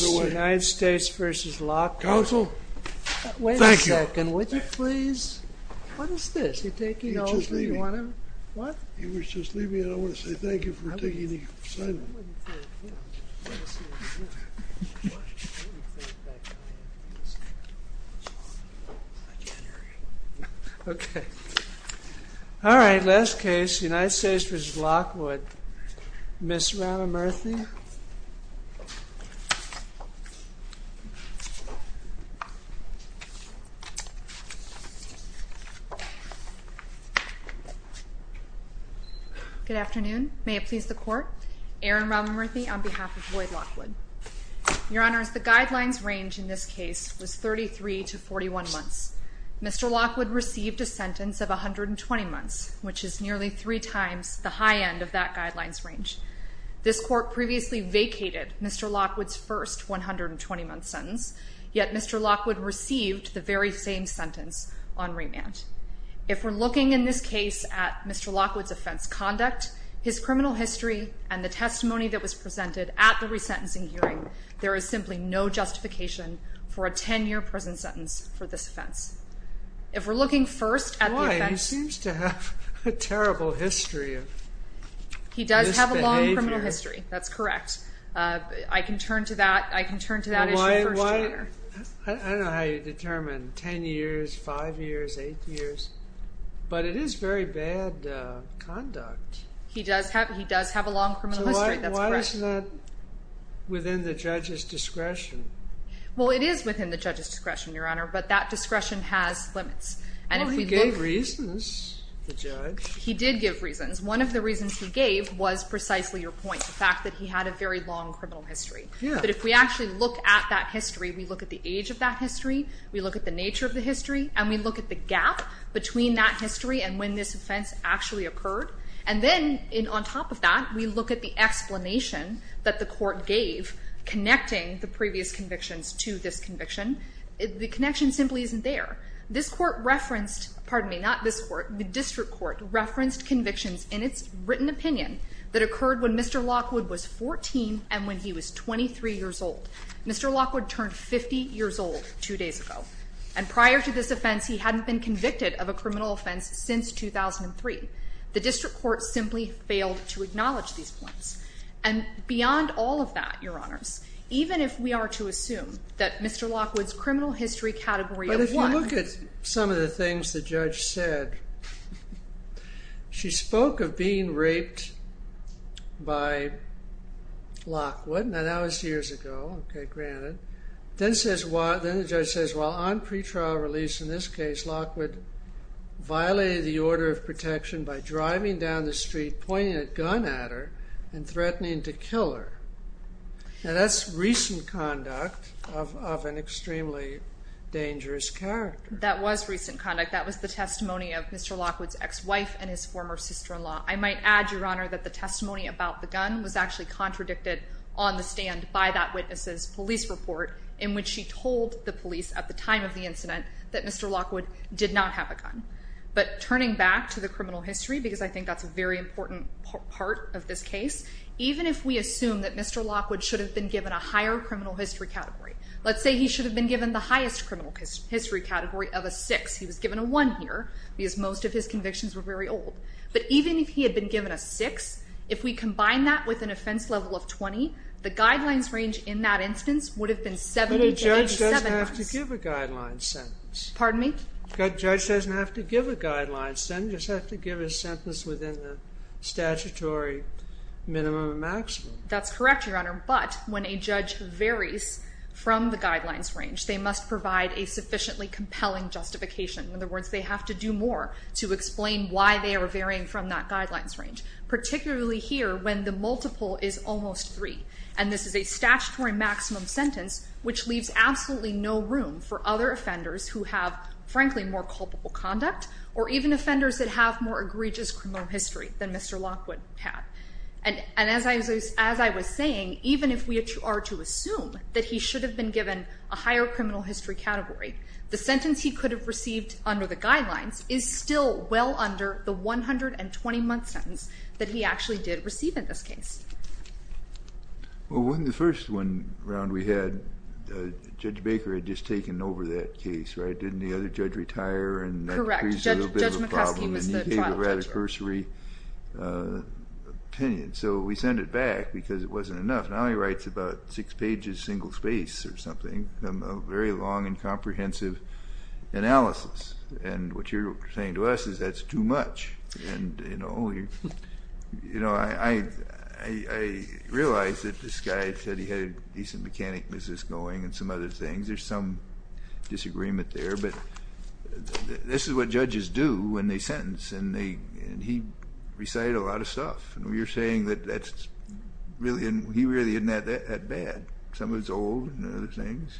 United States v. Lockwood, Ms. Rana Murthy. Good afternoon. May it please the court. Erin Rana Murthy on behalf of Lloyd Lockwood. Your honors, the guidelines range in this case was 33 to 41 months. Mr. Lockwood received a sentence of 120 months, which is nearly three times the high end of that guidelines range. This court previously vacated Mr. Lockwood's first 120-month sentence, yet Mr. Lockwood received the very same sentence on remand. If we're looking in this case at Mr. Lockwood's offense conduct, his criminal history, and the testimony that was presented at the resentencing hearing, there is simply no justification for a 10-year prison sentence for this offense. If we're looking first at... Why? He did give reasons. One of the reasons he gave was precisely your point, the fact that he had a very long criminal history. But if we actually look at that history, we look at the age of that history, we look at the nature of the history, and we look at the gap between that history and when this offense actually occurred. And then on top of that, we look at the explanation that the court gave connecting the previous convictions to this conviction. The connection simply isn't there. This court referenced, pardon me, not this court, the district court referenced convictions in its written opinion that occurred when Mr. Lockwood was 14 and when he was 23 years old. Mr. Lockwood turned 50 years old two days ago. And prior to this offense, he hadn't been convicted of a criminal offense since 2003. The district court simply failed to acknowledge these points. And beyond all of that, your honors, even if we are to assume that Mr. Lockwood's criminal history But if you look at some of the things the judge said, she spoke of being raped by Lockwood. Now that was years ago, okay, granted. Then the judge says, while on pretrial release in this case, Lockwood violated the order of protection by driving down the street, pointing a gun at her, and threatening to kill her. Now that's recent conduct of an extremely dangerous character. That was recent conduct. That was the testimony of Mr. Lockwood's ex-wife and his former sister-in-law. I might add, your honor, that the testimony about the gun was actually contradicted on the stand by that witness's police report in which she told the police at the time of the incident that Mr. Lockwood did not have a gun. But turning back to the criminal history, because I think that's a very important part of this case, even if we assume that Mr. Lockwood should have been given a higher criminal history category, let's say he should have been given the history category of a 6. He was given a 1 here, because most of his convictions were very old. But even if he had been given a 6, if we combine that with an offense level of 20, the guidelines range in that instance would have been 7. But a judge doesn't have to give a guidelines sentence. Pardon me? Judge doesn't have to give a guidelines sentence, just have to give a sentence within the statutory minimum and maximum. That's correct, your honor. But when a judge varies from the guidelines range, they must provide a sufficiently compelling justification. In other words, they have to do more to explain why they are varying from that guidelines range, particularly here when the multiple is almost 3. And this is a statutory maximum sentence, which leaves absolutely no room for other offenders who have, frankly, more culpable conduct, or even offenders that have more egregious criminal history than Mr. Lockwood had. And as I was saying, even if we are to assume that he should have been given a higher criminal history category, the sentence he could have received under the guidelines is still well under the 120-month sentence that he actually did receive in this case. Well, in the first one round we had, Judge Baker had just taken over that case, right? Didn't the other judge retire? Correct, Judge McCoskey was the trial judge. And he gave a rather cursory opinion. So we sent it back because it wasn't enough. Now he writes about six pages, single space or something, a very long and comprehensive analysis. And what you're saying to us is that's too much. And I realize that this guy said he had a decent mechanic business going and some other things. There's some disagreement there. But this is what judges do when they sentence. And he recited a lot of stuff. And you're saying that he really isn't that bad. Some of it's old and other things.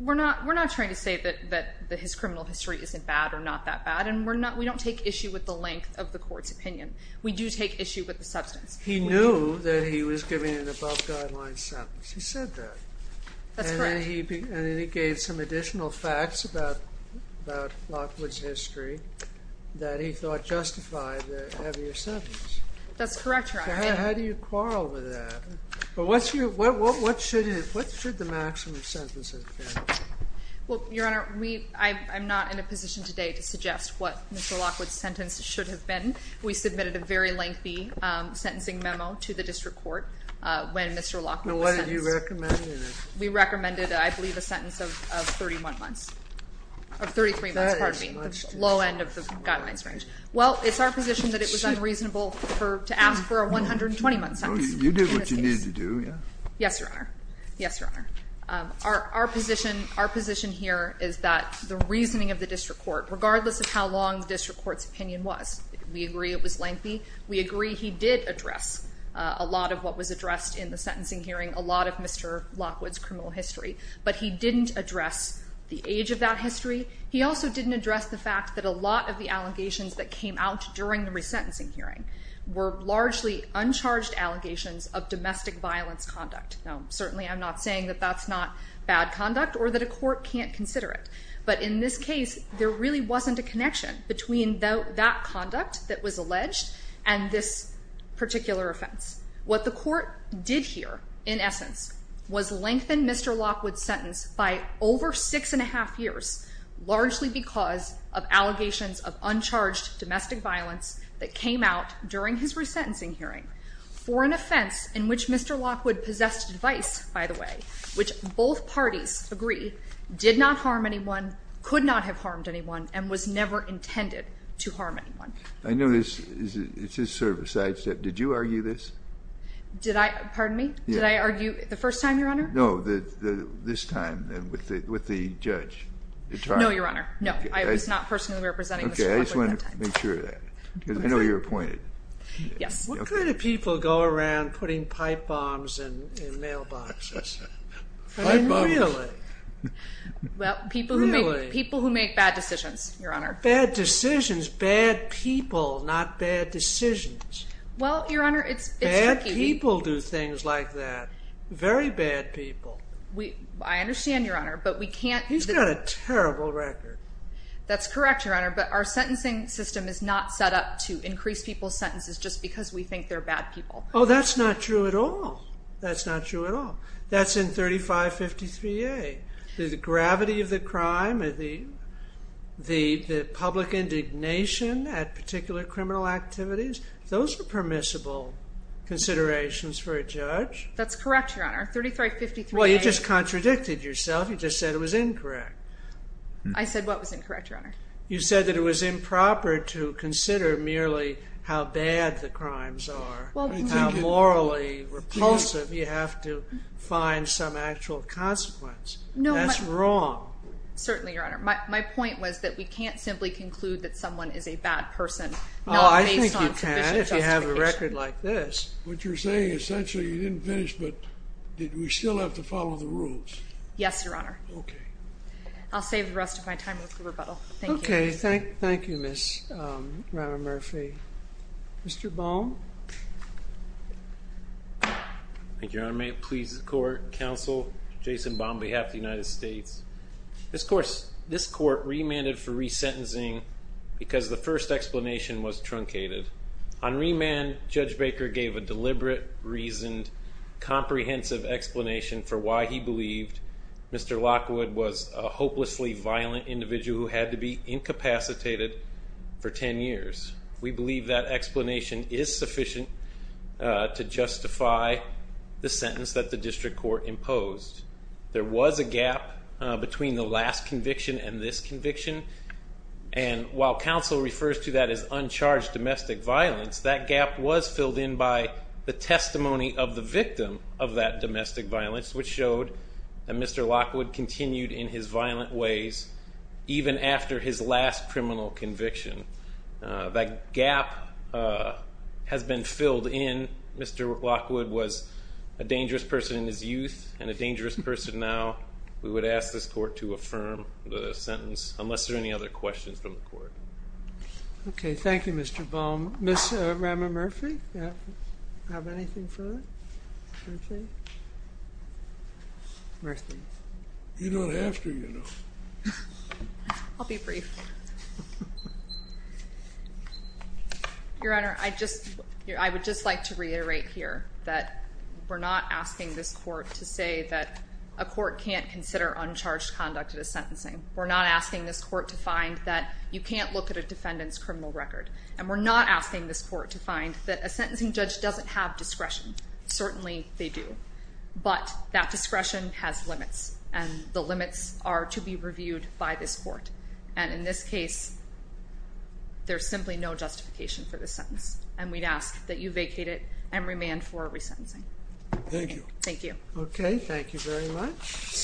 We're not trying to say that his criminal history isn't bad or not that bad. And we don't take issue with the length of the court's opinion. We do take issue with the substance. He knew that he was giving an above-guideline sentence. He said that. That's correct. And then he gave some additional facts about Lockwood's history that he thought justified the heavier sentence. That's correct, Your Honor. How do you quarrel with that? But what should the maximum sentence have been? Well, Your Honor, I'm not in a position today to suggest what Mr. Lockwood's sentence should have been. We submitted a very lengthy sentencing memo to the district court when Mr. Lockwood was sentenced. And what did you recommend in it? We recommended, I believe, a sentence of 31 months. Of 33 months, pardon me. The low end of the guidance range. Well, it's our position that it was unreasonable to ask for a 120-month sentence. You did what you needed to do, yeah? Yes, Your Honor. Yes, Your Honor. Our position here is that the reasoning of the district court, regardless of how long the district court's opinion was, we agree it was lengthy. We agree he did address a lot of what was addressed in the sentencing hearing, a lot of Mr. Lockwood's criminal history. But he didn't address the age of that history. He also didn't address the fact that a lot of the allegations that came out during the resentencing hearing were largely uncharged allegations of domestic violence conduct. Now, certainly, I'm not saying that that's not bad conduct or that a court can't consider it. But in this case, there really wasn't a connection between that conduct that was alleged and this particular offense. What the court did hear, in essence, was lengthen Mr. Lockwood's sentence by over six and a half years, largely because of allegations of uncharged domestic violence that came out during his resentencing hearing for an offense in which Mr. Lockwood possessed a device, by the way, which both parties agree did not harm anyone, could not have harmed anyone, and was never intended to harm anyone. I know this is sort of a sidestep. Did you argue this? Did I? Pardon me? Did I argue the first time, Your Honor? No, this time with the judge. No, Your Honor. No, I was not personally representing Mr. Lockwood that time. Okay, I just wanted to make sure of that. Because I know you're appointed. Yes. What kind of people go around putting pipe bombs in mailboxes? I mean, really? Well, people who make bad decisions, Your Honor. Bad decisions. Bad people, not bad decisions. Well, Your Honor, it's tricky. Bad people do things like that. Very bad people. I understand, Your Honor, but we can't... He's got a terrible record. That's correct, Your Honor. But our sentencing system is not set up to increase people's sentences just because we think they're bad people. Oh, that's not true at all. That's not true at all. That's in 3553A, the gravity of the crime, the public indignation at particular criminal activities. Those are permissible considerations for a judge. That's correct, Your Honor. 3353A... Well, you just contradicted yourself. You just said it was incorrect. I said what was incorrect, Your Honor? You said that it was improper to consider merely how bad the crimes are, how morally repulsive. You have to find some actual consequence. That's wrong. Certainly, Your Honor. My point was that we can't simply conclude that someone is a bad person. Oh, I think you can if you have a record like this. What you're saying is essentially you didn't finish, but did we still have to follow the rules? Yes, Your Honor. Okay. I'll save the rest of my time with the rebuttal. Thank you. Okay. Thank you, Ms. Romer-Murphy. Mr. Baum. Thank you, Your Honor. May it please the court. Counsel, Jason Baum on behalf of the United States. This court remanded for resentencing because the first explanation was truncated. On remand, Judge Baker gave a deliberate, reasoned, comprehensive explanation for why he believed Mr. Lockwood was a hopelessly violent individual who had to be incapacitated for 10 years. We believe that explanation is sufficient to justify the sentence that the district court imposed. There was a gap between the last conviction and this conviction, and while counsel refers to that as uncharged domestic violence, that gap was filled in by the testimony of the victim of that domestic violence, which showed that Mr. Lockwood continued in his violent ways even after his last criminal conviction. That gap has been filled in. Mr. Lockwood was a dangerous person in his youth and a dangerous person now. We would ask this court to affirm the sentence unless there are any other questions from the court. Okay, thank you, Mr. Baum. Ms. Romer-Murphy, do you have anything further to say? Murphy. You don't have to, you know. I'll be brief. Your Honor, I would just like to reiterate here that we're not asking this court to say that a court can't consider uncharged conduct as sentencing. We're not asking this court to find that you can't look at a defendant's criminal record, and we're not asking this court to find that a sentencing judge doesn't have discretion. Certainly, they do, but that discretion has limits, and the limits are to be reviewed by this court. And in this case, there's simply no justification for this sentence, and we'd ask that you vacate it and remand for resentencing. Thank you. Thank you. Okay, thank you very much.